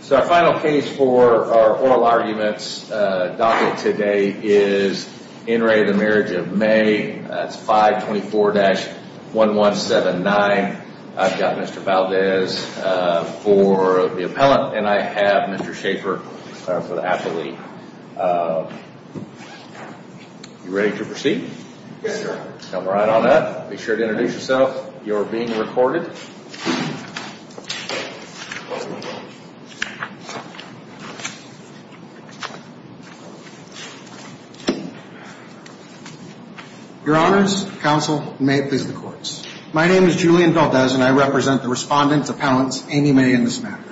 So our final case for our oral arguments docket today is In re the marriage of May that's 524 dash one one seven nine I've got mr. Valdez for the appellant and I have mr. Schaefer for the athlete you ready to proceed come right on up be sure to introduce yourself you're being recorded your honors counsel may please the courts my name is Julian Valdez and I represent the respondents appellants Amy May in this matter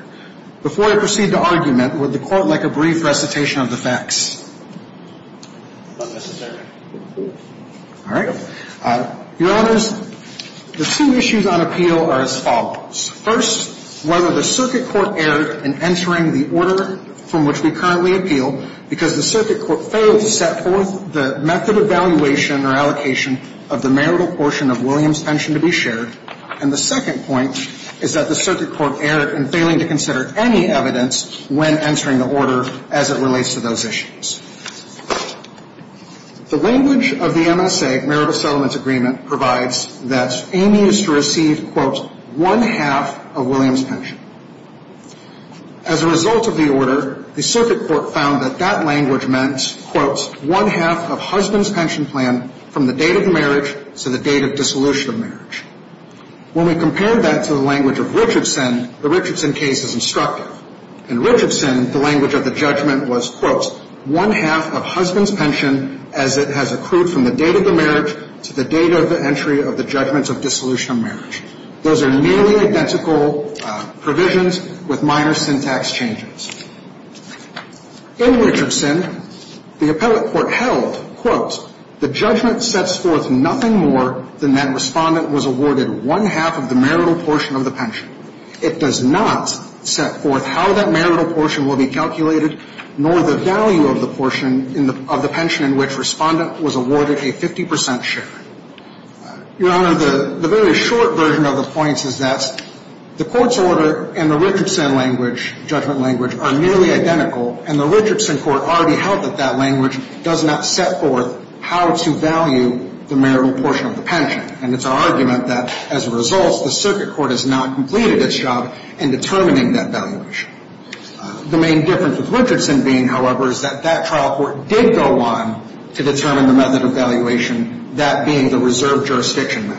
before I proceed to argument with the court like a brief recitation of the facts all right your honors the two issues on appeal are as follows first whether the circuit court erred in entering the order from which we currently appeal because the circuit court failed to set forth the method of valuation or allocation of the marital portion of Williams pension to be shared and the second point is that the circuit court erred and failing to consider any evidence when entering the order as it relates to those issues the language of the MSA marital settlements agreement provides that Amy is to receive quote one half of Williams pension as a result of the order the circuit court found that that language meant quotes one half of husband's pension plan from the date of marriage to the date of dissolution of marriage when we compare that to the language of Richardson the Richardson case is instructive and Richardson the language of the judgment was quotes one half of husband's pension as it has accrued from the date of the marriage to the date of the entry of the judgments of dissolution of marriage those are nearly identical provisions with minor syntax changes in Richardson the appellate court held quotes the judgment sets forth nothing more than that respondent was awarded one half of the marital portion of the pension it does not set forth how that marital portion will be calculated nor the value of the portion of the pension in which respondent was awarded a 50% share your honor the very short version of the points is that the court's order and the Richardson language judgment language are nearly identical and the Richardson court already held that that language does not set forth how to value the marital portion of the pension and it's our argument that as a result the circuit court has not completed its job in determining that valuation the main difference with Richardson being however is that that trial court did go on to determine the method of valuation that being the reserve jurisdiction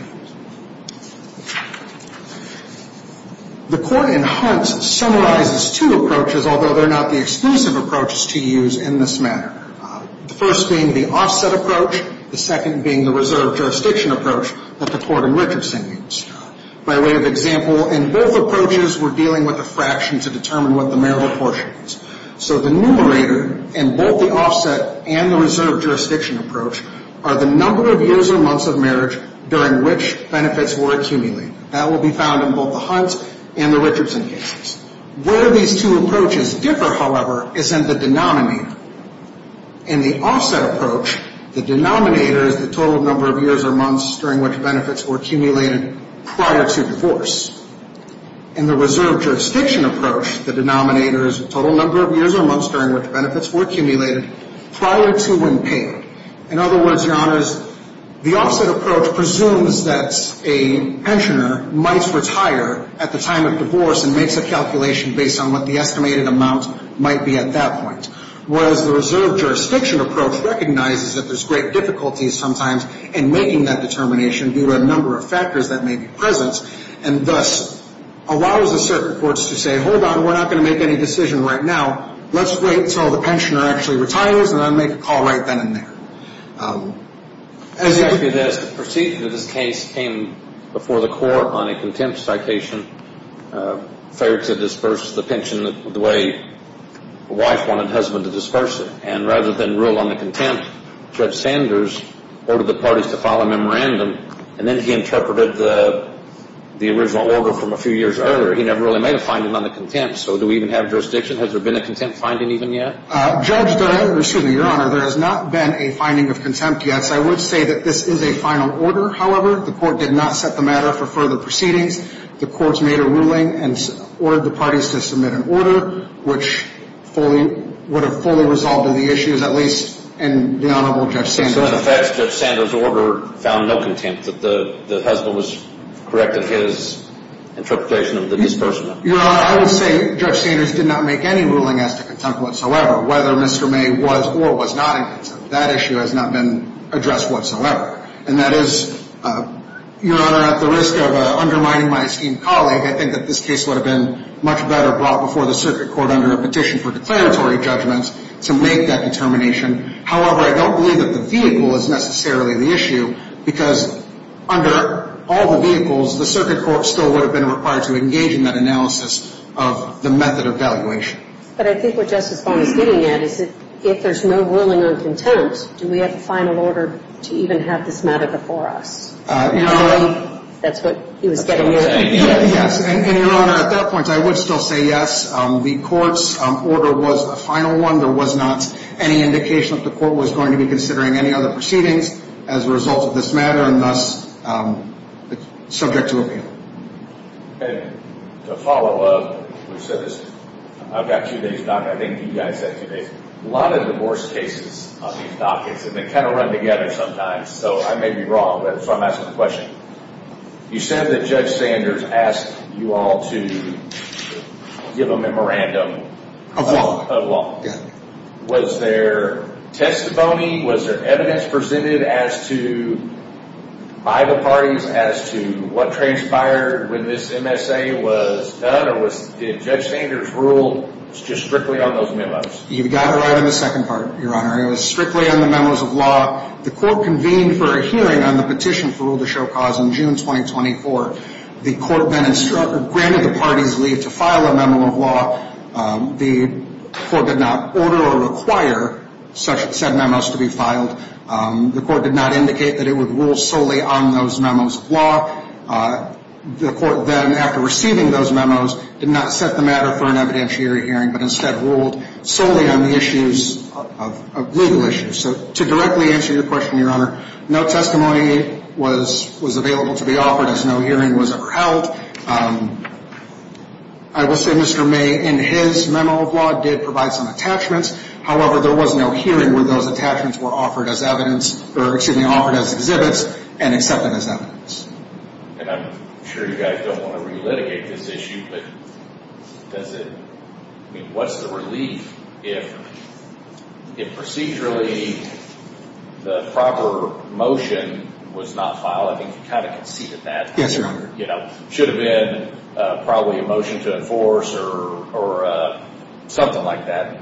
the court in hunts summarizes two approaches although they're not the exclusive approaches to use in this manner the first being the offset approach the second being the reserve jurisdiction approach that the court in Richardson means by way of example in both approaches we're dealing with a fraction to determine what the marital portion is so the numerator and both the offset and the reserve jurisdiction approach are the number of years or months of marriage during which benefits were accumulated that will be found in both the hunts and the Richardson cases where these two approaches differ however is in the denominator in the offset approach the denominator is the total number of years or months during which benefits were accumulated prior to the offset approach presumes that a pensioner might retire at the time of divorce and makes a calculation based on what the estimated amount might be at that point whereas the reserve jurisdiction approach recognizes that there's great difficulties sometimes in making that determination due to a number of factors that may be present and thus allows the circuit courts to say hold your horses we're going to do this and we're going to do this and we're not going to make any decision right now let's wait until the pensioner actually retires and then make a call right then and there. The proceedings of this case came before the court on a contempt citation fair to disperse the pension the way a wife wanted her husband to disperse it and rather than rule on the contempt Judge Sanders ordered the parties to file a memorandum and then he interpreted the original order from a contempt so do we even have jurisdiction has there been a contempt finding even yet? Judge, excuse me your honor there has not been a finding of contempt yet so I would say that this is a final order however the court did not set the matter for further proceedings the courts made a ruling and ordered the parties to submit an order which fully would have fully resolved the issues at least in the honorable Judge Sanders. So in effect Judge Sanders order found no contempt that the husband was correct in his interpretation of the disbursement? Your honor I would say Judge Sanders did not make any ruling as to contempt whatsoever whether Mr. May was or was not in contempt that issue has not been addressed whatsoever and that is your honor at the risk of undermining my esteemed colleague I think that this case would have been much better brought before the circuit court under a petition for declaratory judgments to make that determination however I don't believe that the vehicle is necessarily the issue because under all the vehicles the circuit court still would have been required to engage in that analysis of the method of evaluation. But I think what Justice Bonner is getting at is that if there is no ruling on contempt do we have a final order to even have this matter before us? Your honor. That's what he was getting at. Yes and your honor at that point I would still say yes the courts order was a final one there was not any indication that the court was going to be considering any other proceedings as a result of this matter and thus subject to appeal. And to follow up I've got two days left I think you guys have two days a lot of divorce cases on these dockets and they kind of run together sometimes so I may be wrong but so I'm asking the question you said that Judge Sanders asked you all to give a memorandum of law was there testimony was there evidence presented as to by the parties as to what transpired when this MSA was done or did Judge Sanders rule just strictly on those memos? You've got it right in the second part your honor it was strictly on the memos of law the court convened for a hearing on the petition for rule to show cause in June 2024 the court then instructed granted the parties leave to file a memo of law the court did not order or require such said memos to be filed the court did not indicate that it would rule solely on those memos of law the court then after receiving those memos did not set the matter for an evidentiary hearing but instead ruled solely on the issues of legal issues so to directly answer your question your honor no testimony was available to be offered as no hearing was ever held I will say Mr. May in his memo of law did provide some attachments however there was no hearing where those attachments were offered as evidence or excuse me offered as exhibits and accepted as evidence. And I'm sure you guys don't want to re-litigate this issue but what's the relief if procedurally the proper motion was not filed I think you kind of conceded that. Yes your honor. You know should have been probably a motion to enforce or something like that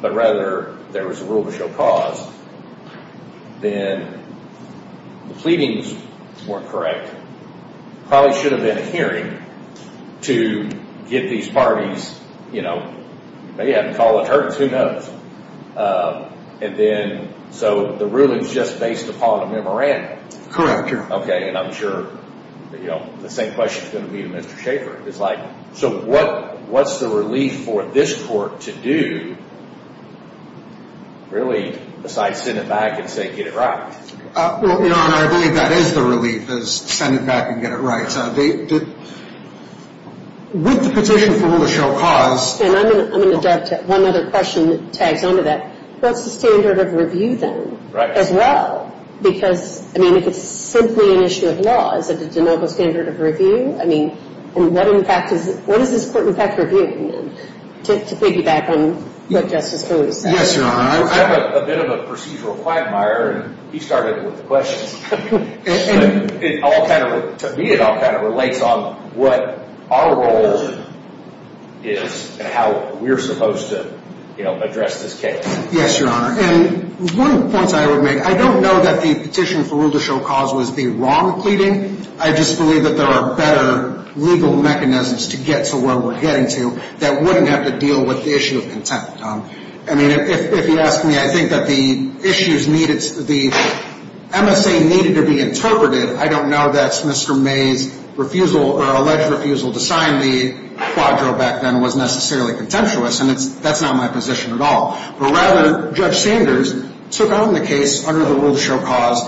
but rather there was a rule to show cause then the pleadings weren't correct probably should have been a hearing to get these parties you know they haven't called attorneys who and then so the ruling is just based upon a memorandum. Correct. Okay and I'm sure you know the same question is going to be to Mr. Shaffer it's like so what what's the relief for this court to do really besides send it back and say get it right. Your honor I believe that is the relief is send it back and get it right. With the petition for rule of show cause. And I'm going to jump to one other question that tags on to that. What's the standard of review then? Right. As well because I mean if it's simply an issue of law is it a de novo standard of review I mean and what in fact is what is this court in fact reviewing to piggyback on what Justice Cooley said. Yes your honor. I'm a bit of a procedural quagmire and he started with the questions. To me it all kind of relates on what our role is and how we're supposed to you know address this case. Yes your honor and one of the points I would make I don't know that the petition for rule to show cause was the wrong pleading I just believe that there are better legal mechanisms to get to where we're getting to that wouldn't have to deal with the issue of contempt. I mean if you ask me I think that the issues needed the MSA needed to be interpreted I don't know that's Mr. Mays refusal or alleged refusal to sign the quadro back then was necessarily contemptuous and that's not my position at all. But rather Judge Sanders took on the case under the rule to show cause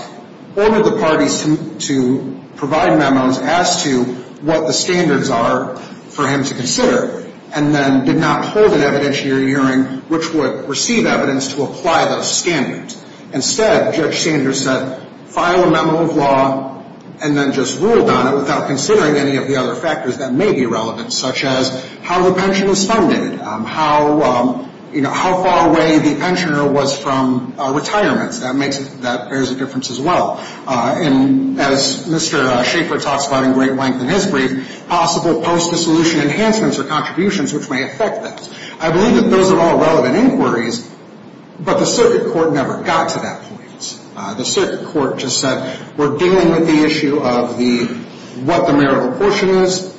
ordered the parties to provide memos as to what the standards are for him to consider and then did not hold an evidentiary hearing which would receive evidence to apply those standards. Instead Judge Sanders said file a memo of law and then just ruled on it without considering any of the other factors that may be relevant such as how the pension is funded, how you know how far away the pensioner was from retirement. That makes that there's a difference as well and as Mr. Shaffer talks about in great length in his brief possible post-dissolution enhancements or contributions which may affect this. I believe that those are all relevant inquiries but the circuit court never got to that point. The circuit court just said we're dealing with the issue of the what the marital portion is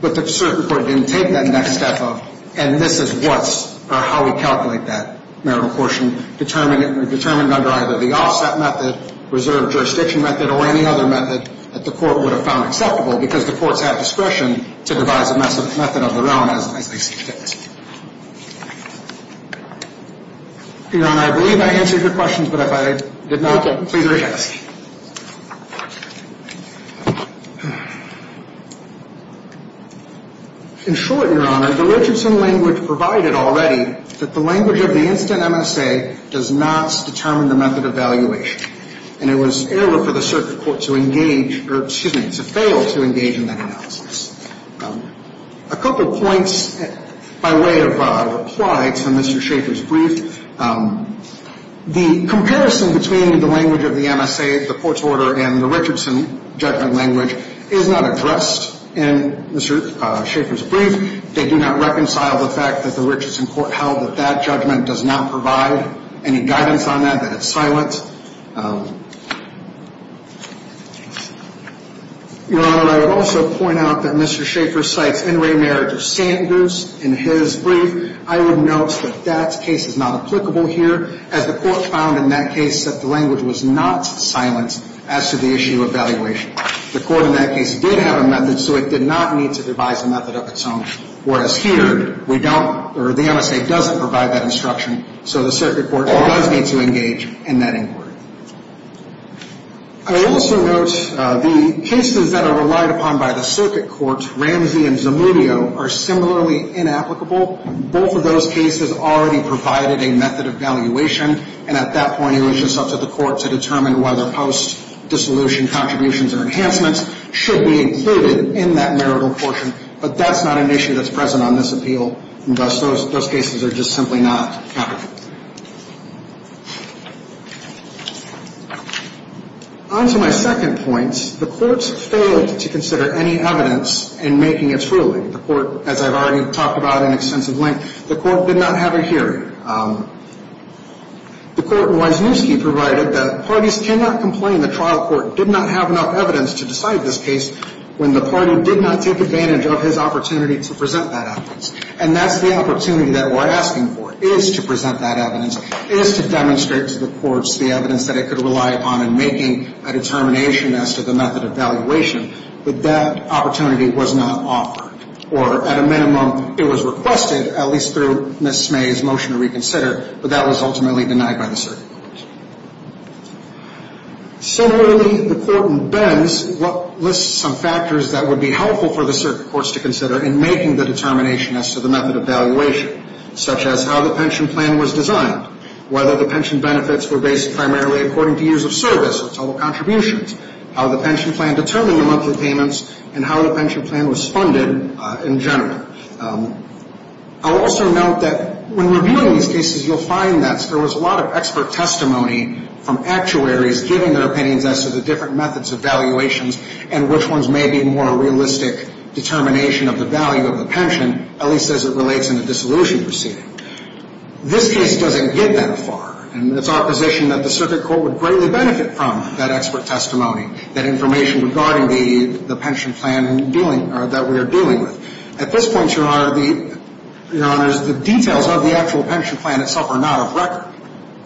but the circuit court didn't take that next step of And this is what's or how we calculate that marital portion determined under either the offset method, reserve jurisdiction method or any other method that the court would have found acceptable because the courts have discretion to devise a method of their own as they see fit. Your Honor, I believe I answered your question but if I did not, please re-ask. In short, Your Honor, the Richardson language provided already that the language of the instant MSA does not determine the method of evaluation and it was error for the circuit court to engage or excuse me, to fail to engage in that analysis. A couple of points by way of reply to Mr. Shaffer's brief. The comparison between the language of the MSA and the language of the instant MSA the court's order and the Richardson judgment language is not addressed in Mr. Shaffer's brief. They do not reconcile the fact that the Richardson court held that that judgment does not provide any guidance on that, that it's silent. Your Honor, I would also point out that Mr. Shaffer cites In re Marriage of Sanders in his brief. I would note that that case is not applicable here as the court found in that case that the language was not silent as to the issue of evaluation. The court in that case did have a method so it did not need to devise a method of its own whereas here we don't or the MSA doesn't provide that instruction so the circuit court does need to engage in that inquiry. I would also note the cases that are relied upon by the circuit court, Ramsey and Zamudio, are similarly inapplicable. Both of those cases already provided a method of evaluation and at that point it was just up to the court to determine whether post-dissolution contributions or enhancements should be included in that marital portion but that's not an issue that's present on this appeal and thus those cases are just simply not applicable. On to my second point, the court failed to consider any evidence in making its ruling. The court, as I've already talked about in extensive length, the court did not have a hearing. The court in Wisniewski provided that parties cannot complain the trial court did not have enough evidence to decide this case when the party did not take advantage of his opportunity to present that evidence and that's the opportunity that we're asking for is to present that evidence, is to demonstrate to the courts the evidence that it could rely upon in making a determination as to the method of valuation but that opportunity was not offered or at a minimum it was requested, at least through Ms. Smay's motion to reconsider, but that was ultimately denied by the circuit court. Similarly, the court in Benz lists some factors that would be helpful for the circuit courts to consider in making the determination as to the method of valuation, such as how the pension plan was designed, whether the pension benefits were based primarily according to years of service or total contributions, how the pension plan determined the monthly payments and how the pension plan was funded in general. I'll also note that when reviewing these cases you'll find that there was a lot of expert testimony from actuaries giving their opinions as to the different methods of valuations and which ones may be more realistic determination of the value of the pension, at least as it relates in the dissolution proceeding. This case doesn't get that far and it's our position that the circuit court would greatly benefit from that expert testimony, that information regarding the pension plan that we are dealing with. At this point, Your Honor, the details of the actual pension plan itself are not of record.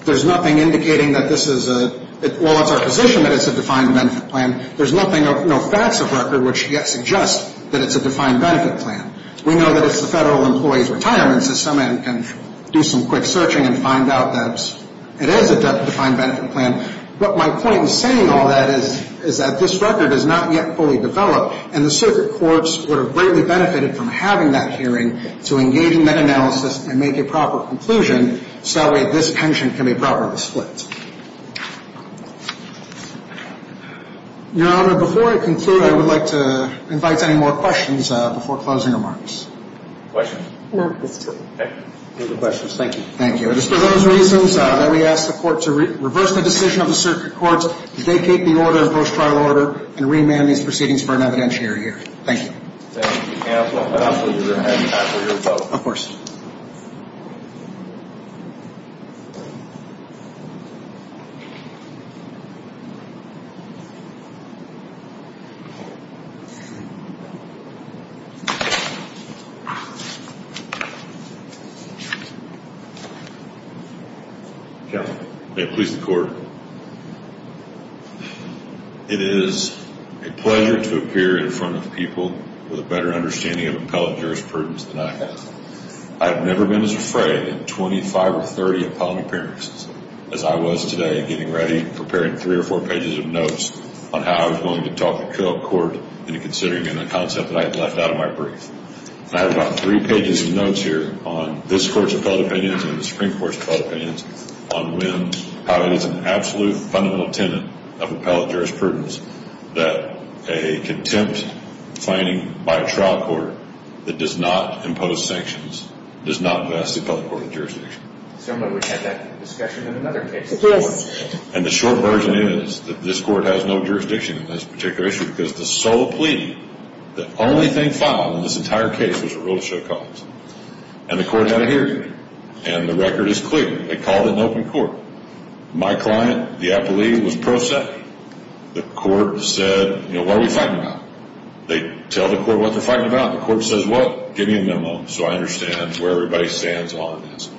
There's nothing indicating that this is a, well, it's our position that it's a defined benefit plan. There's nothing, no facts of record which yet suggest that it's a defined benefit plan. We know that it's the Federal Employees Retirement System and can do some quick searching and find out that it is a defined benefit plan. But my point in saying all that is that this record is not yet fully developed and the circuit courts would have greatly benefited from having that hearing to engage in that analysis and make a proper conclusion so that way this pension can be properly split. Your Honor, before I conclude, I would like to invite any more questions before closing remarks. Questions? No, that's good. No questions. Thank you. Thank you. And it's for those reasons that we ask the court to reverse the decision of the circuit courts, to vacate the order, the post-trial order, and remand these proceedings for an evidentiary year. Thank you. Thank you, counsel. And I'll put your hand back for your vote. Of course. Counsel, may I please the court? It is a pleasure to appear in front of people with a better understanding of appellate jurisprudence than I have. I have never been as afraid in 25 or 30 appellate appearances as I was today getting ready, preparing three or four pages of notes on how I was going to talk to court in considering the concept that I had left out of my brief. And I have about three pages of notes here on this Court's appellate opinions and the Supreme Court's appellate opinions on when, how it is an absolute fundamental tenet of appellate jurisprudence that a contempt finding by a trial court that does not impose sanctions does not vest the appellate court with jurisdiction. Someone would have that discussion in another case. And the short version is that this Court has no jurisdiction in this particular issue because the sole plea, the only thing filed in this entire case was a rule of show cause. And the Court had a hearing and the record is clear. They called it an open court. My client, the appellee, was pro se. The Court said, you know, what are we fighting about? They tell the Court what they're fighting about. The Court says, well, give me a memo so I understand where everybody stands on this.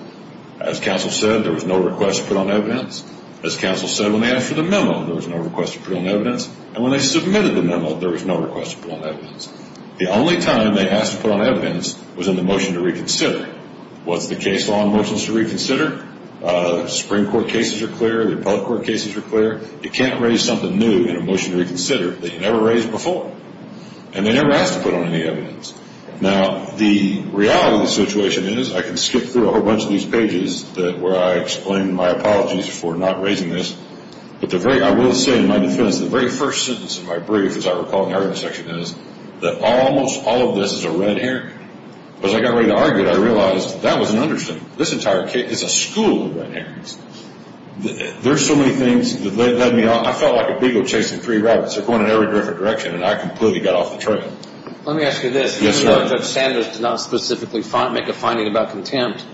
As counsel said, there was no request to put on evidence. As counsel said, when they asked for the memo, there was no request to put on evidence. And when they submitted the memo, there was no request to put on evidence. The only time they asked to put on evidence was in the motion to reconsider. What's the case law in motions to reconsider? Supreme Court cases are clear. The appellate court cases are clear. You can't raise something new in a motion to reconsider that you never raised before. And they never asked to put on any evidence. Now, the reality of the situation is I can skip through a whole bunch of these pages where I explain my apologies for not raising this. I will say in my defense, the very first sentence of my brief, as I recall in the argument section, is that almost all of this is a red herring. As I got ready to argue it, I realized that was an understatement. This entire case is a school of red herrings. There are so many things that led me on. I felt like a beagle chasing three rabbits. They're going in every different direction, and I completely got off the trail. Let me ask you this. Yes, sir. If Judge Sanders did not specifically make a finding about contempt,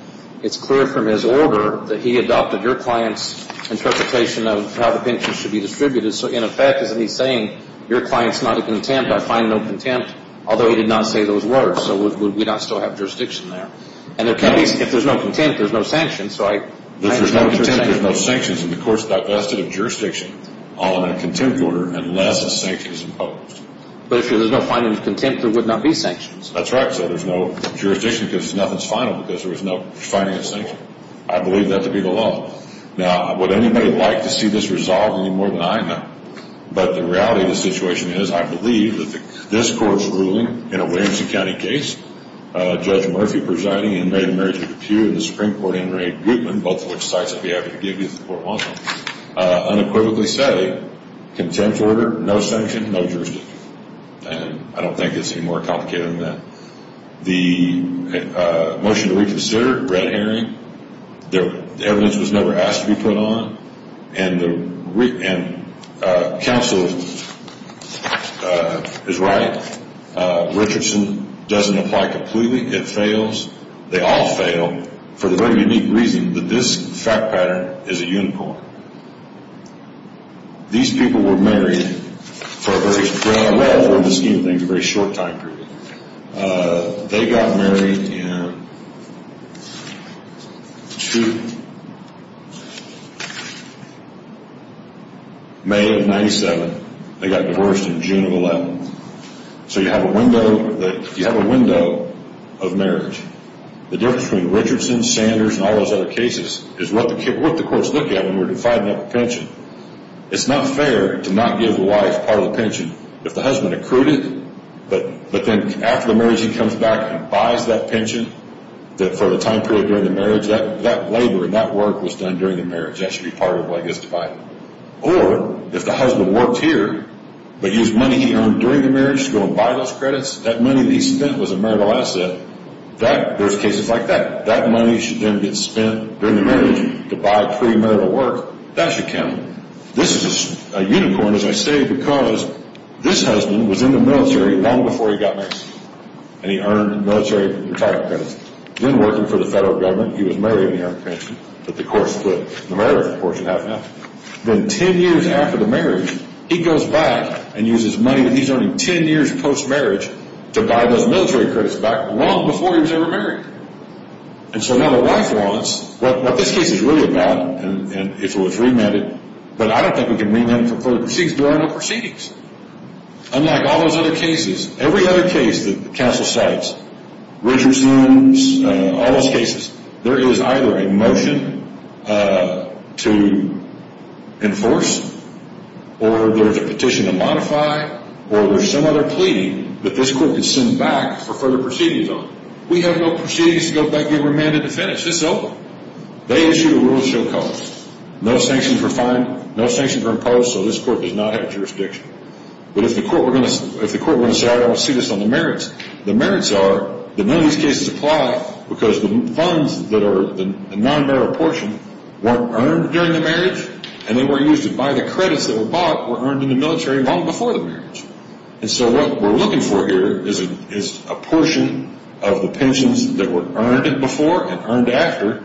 it's clear from his order that he adopted your client's interpretation of how the pensions should be distributed. So, in effect, isn't he saying your client's not a contempt, I find no contempt, although he did not say those words, so would we not still have jurisdiction there? And if there's no contempt, there's no sanctions, right? If there's no contempt, there's no sanctions, and the court's divested of jurisdiction on a contempt order unless a sanction is imposed. But if there's no finding of contempt, there would not be sanctions. That's right. I said there's no jurisdiction because nothing's final because there was no finding of sanction. I believe that to be the law. Now, would anybody like to see this resolved any more than I do? But the reality of the situation is I believe that this court's ruling in a Williamson County case, Judge Murphy presiding and Mary Marie DePue and the Supreme Court and Ray Gutman, both of which sites I'd be happy to give you if the court wants them, unequivocally say contempt order, no sanction, no jurisdiction. And I don't think it's any more complicated than that. The motion to reconsider, red herring. The evidence was never asked to be put on. And counsel is right. Richardson doesn't apply completely. It fails. They all fail for the very unique reason that this fact pattern is a unicorn. These people were married for a very short time period. They got married in May of 97. They got divorced in June of 11. So you have a window of marriage. The difference between Richardson, Sanders, and all those other cases is what the court's looking at when we're defining up a pension. It's not fair to not give the wife part of the pension. If the husband accrued it, but then after the marriage he comes back and buys that pension for the time period during the marriage, that labor and that work was done during the marriage. That should be part of what gets divided. Or if the husband worked here but used money he earned during the marriage to go and buy those credits, that money that he spent was a marital asset, there's cases like that. That money should then get spent during the marriage to buy pre-marital work. That should count. This is a unicorn, as I say, because this husband was in the military long before he got married. And he earned a military retirement pension. Then working for the federal government, he was married and he earned a pension. But the court split the marriage portion in half. Then 10 years after the marriage, he goes back and uses money that he's earned 10 years post-marriage to buy those military credits back long before he was ever married. And so now the wife wants what this case is really about, and if it was remanded, but I don't think we can remand it for further proceedings. There are no proceedings. Unlike all those other cases, every other case that counsel cites, Richardson's, all those cases, there is either a motion to enforce or there's a petition to modify or there's some other pleading that this court could send back for further proceedings on. We have no proceedings to go back and remand it to finish. This is open. They issue a rule of show cause. No sanctions were imposed, so this court does not have jurisdiction. But if the court were going to say, I don't see this on the merits, the merits are that none of these cases apply because the funds that are the non-marital portion weren't earned during the marriage and they weren't used to buy the credits that were bought were earned in the military long before the marriage. And so what we're looking for here is a portion of the pensions that were earned before and earned after,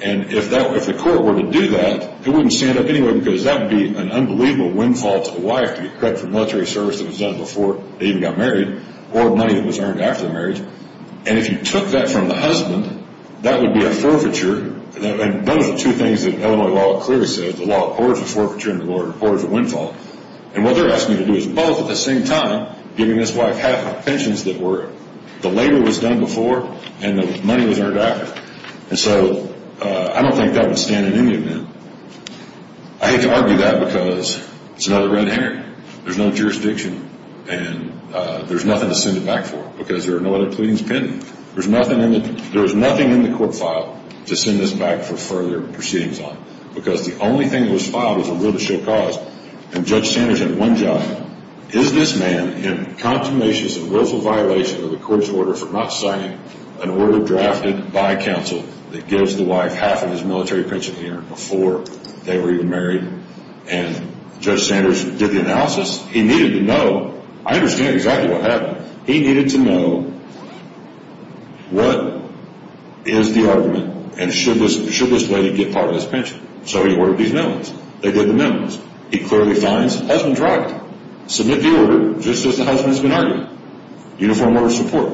and if the court were to do that, it wouldn't stand up anyway because that would be an unbelievable windfall to the wife to get credit for military service that was done before they even got married or money that was earned after the marriage. And if you took that from the husband, that would be a forfeiture, and those are two things that Illinois law clearly says. The law of forfeiture and the law of windfall. And what they're asking me to do is both at the same time, giving this wife half the pensions that were, the labor was done before and the money was earned after. And so I don't think that would stand in any event. I hate to argue that because it's another red herring. There's no jurisdiction and there's nothing to send it back for because there are no other pleadings pending. There's nothing in the court file to send this back for further proceedings on because the only thing that was filed was a will to show cause, and Judge Sanders had one job. Is this man in consummatious and willful violation of the court's order for not signing an order drafted by counsel that gives the wife half of his military pension earned before they were even married? And Judge Sanders did the analysis. He needed to know. I understand exactly what happened. He needed to know what is the argument and should this lady get part of his pension. So he ordered these amendments. They did the amendments. He clearly finds the husband's right. Submit the order just as the husband's been arguing. Uniform order of support.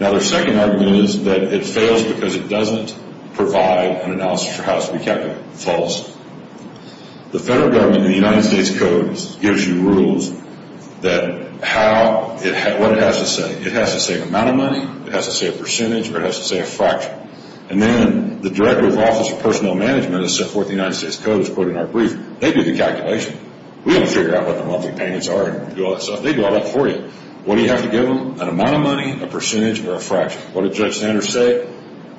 Now their second argument is that it fails because it doesn't provide an analysis for how to speak capital. False. The federal government in the United States Code gives you rules that how, what it has to say. It has to say amount of money, it has to say a percentage, or it has to say a fraction. And then the Director of Office of Personnel Management has set forth in the United States Code, as quoted in our brief, they do the calculation. We have to figure out what the monthly payments are and do all that stuff. They do all that for you. What do you have to give them? An amount of money, a percentage, or a fraction? What did Judge Sanders say?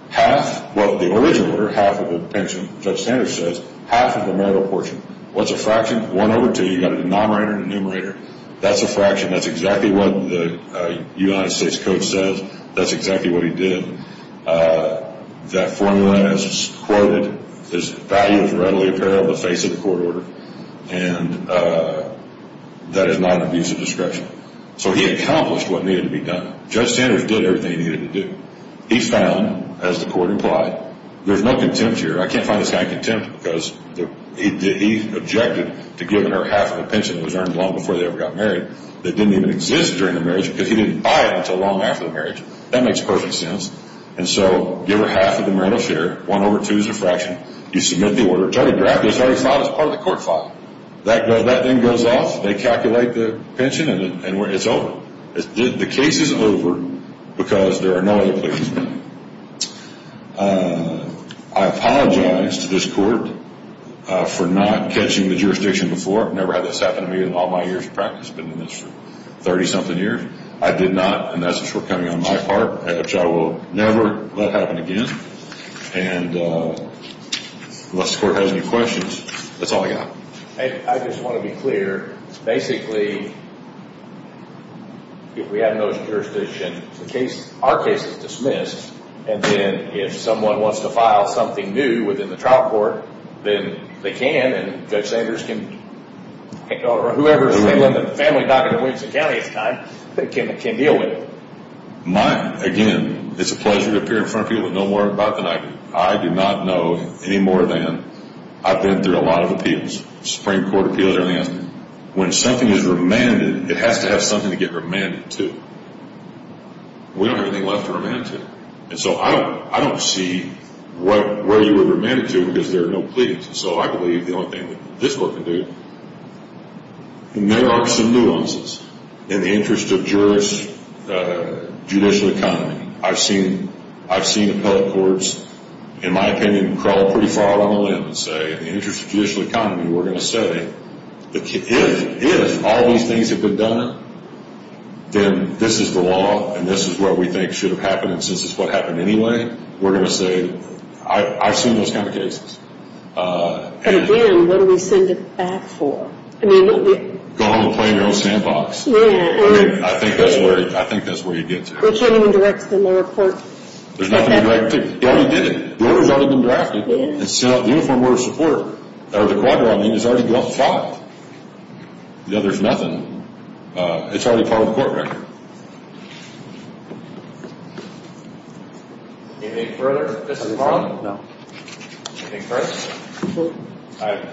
Half of the original order, half of the pension, Judge Sanders says, half of the marital portion. What's a fraction? One over two. You've got a denominator and a numerator. That's a fraction. That's exactly what the United States Code says. That's exactly what he did. That formula is quoted. The value is readily apparent on the face of the court order. And that is not an abuse of discretion. So he accomplished what needed to be done. Judge Sanders did everything he needed to do. He found, as the court implied, there's no contempt here. I can't find this kind of contempt because he objected to giving her half of the pension that was earned long before they ever got married that didn't even exist during the marriage because he didn't buy it until long after the marriage. That makes perfect sense. And so give her half of the marital share. One over two is a fraction. You submit the order. It's already drafted. It's already filed as part of the court file. That then goes off. They calculate the pension, and it's over. The case is over because there are no other pleasants. I apologize to this court for not catching the jurisdiction before. I've never had this happen to me in all my years of practice. I've been in this for 30-something years. I did not, and that's what's coming on my part, which I will never let happen again. And unless the court has any questions, that's all I got. I just want to be clear. Basically, if we have no jurisdiction, our case is dismissed, and then if someone wants to file something new within the trial court, then they can, and Judge Sanders can, or whoever's family doctor in Williamson County at the time can deal with it. Again, it's a pleasure to appear in front of people who don't worry about that. I do not know any more than I've been through a lot of appeals, Supreme Court appeals and everything else. When something is remanded, it has to have something to get remanded to. We don't have anything left to remand it to. And so I don't see where you would remand it to because there are no pleadings. And so I believe the only thing that this court can do. And there are some nuances. In the interest of jurists, judicial economy, I've seen appellate courts, in my opinion, crawl pretty far out on a limb and say, in the interest of judicial economy, we're going to say, if all these things have been done, then this is the law and this is what we think should have happened, and since it's what happened anyway, we're going to say, I've seen those kind of cases. And again, what do we send it back for? Go home and play in your own sandbox. I mean, I think that's where you get to. We can't even direct it in the report. There's nothing to direct it to. They already did it. The order's already been drafted. It's set up in the Uniform Order of Support. Or the quadra, I mean, it's already been filed. The other's nothing. It's already part of the court record. Anything further? No. Anything further? No. I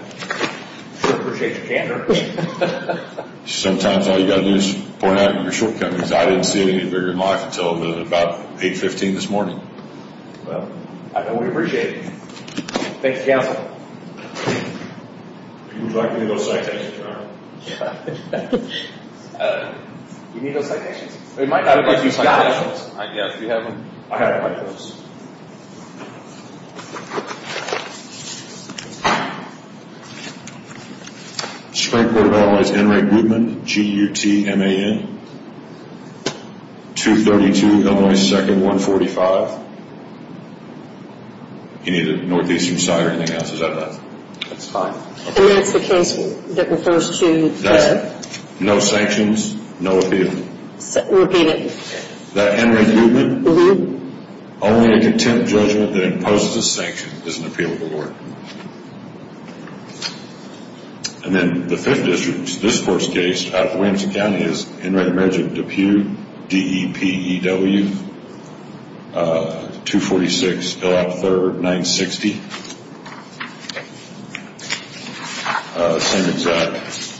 sure appreciate your candor. Sometimes all you've got to do is point out your shortcomings. I didn't see it any bigger in life until about 8.15 this morning. Well, I know we appreciate it. Thank you, counsel. If you would like to need those citations, Your Honor. You need those citations? We might have a bunch of citations. Yeah, if you have them. I have a bunch of those. Spring Court of Allies, Henry Guttman, G-U-T-T-M-A-N, 232 Illinois 2nd, 145. You need the northeastern side or anything else? Is that it? That's fine. And that's the case that refers to? That's it. No sanctions, no appeal. Repeat it. That Henry Guttman? Mm-hmm. Only a contempt judgment that imposes a sanction is an appealable order. And then the fifth district, this court's case, out of Williamson County is in writing measure Depew, D-E-P-E-W, 246, Hillop Third, 960. Same exact.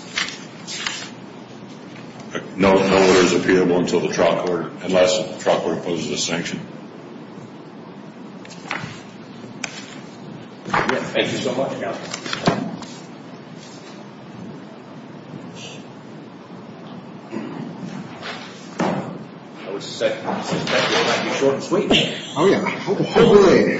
No order is appealable until the trial court, unless the trial court imposes a sanction. Thank you so much, Counselor. I would suspect this might be a short speech. Oh, yeah. Hopefully.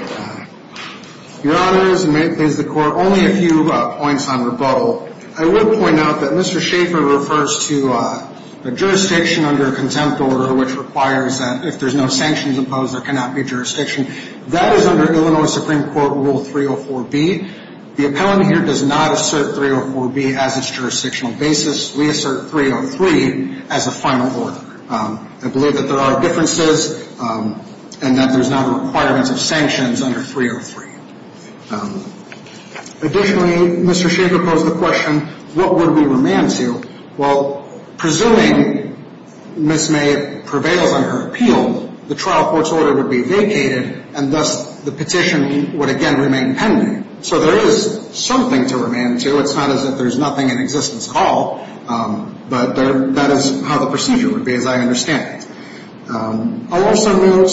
Your Honor, this amends the court only a few points on rebuttal. I will point out that Mr. Schaefer refers to a jurisdiction under a contempt order which requires that if there's no sanctions imposed, there cannot be a jurisdiction. That is under Illinois Supreme Court Rule 304B. The appellant here does not assert 304B as its jurisdictional basis. We assert 303 as the final order. I believe that there are differences and that there's not a requirement of sanctions under 303. Additionally, Mr. Schaefer posed the question, what would we remand to? Well, presuming Ms. May prevails on her appeal, the trial court's order would be vacated and thus the petition would again remain pending. So there is something to remand to. It's not as if there's nothing in existence at all, but that is how the procedure would be, as I understand it. I'll also note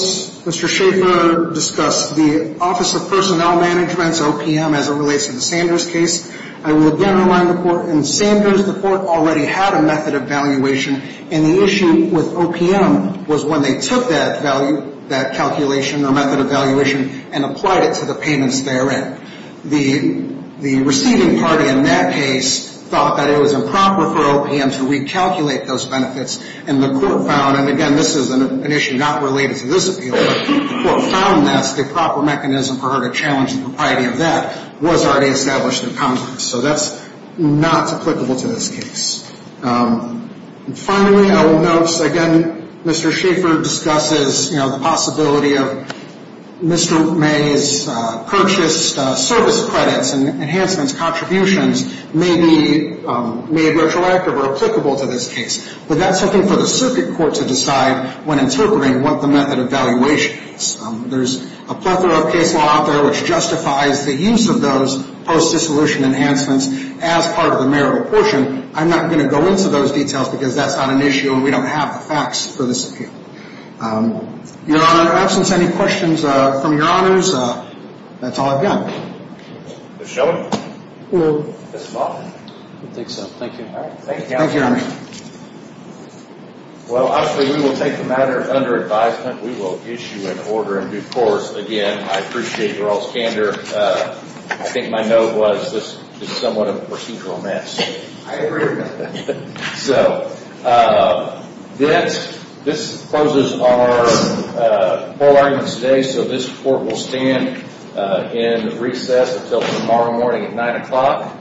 Mr. Schaefer discussed the Office of Personnel Management's OPM as it relates to the Sanders case. I will again remind the court in Sanders the court already had a method of valuation and the issue with OPM was when they took that value, that calculation or method of valuation and applied it to the payments therein. The receiving party in that case thought that it was improper for OPM to recalculate those benefits and the court found, and again this is an issue not related to this appeal, but the court found that the proper mechanism for her to challenge the propriety of that was already established in Congress. So that's not applicable to this case. Finally, I will note again Mr. Schaefer discusses the possibility of Mr. May's purchased service credits and enhancements contributions may be made retroactive or applicable to this case. But that's something for the circuit court to decide when interpreting what the method of valuation is. There's a plethora of case law out there which justifies the use of those post-dissolution enhancements as part of the marital portion. I'm not going to go into those details because that's not an issue and we don't have the facts for this appeal. Your Honor, in the absence of any questions from Your Honors, that's all I've got. Ms. Schellman? Yes, Your Honor. Well, obviously we will take the matter under advisement. We will issue an order in due course. Again, I appreciate your all's candor. I think my note was this is somewhat of a procedural mess. I agree with that. So, this closes our whole argument today. So this court will stand in recess until tomorrow morning at 9 o'clock.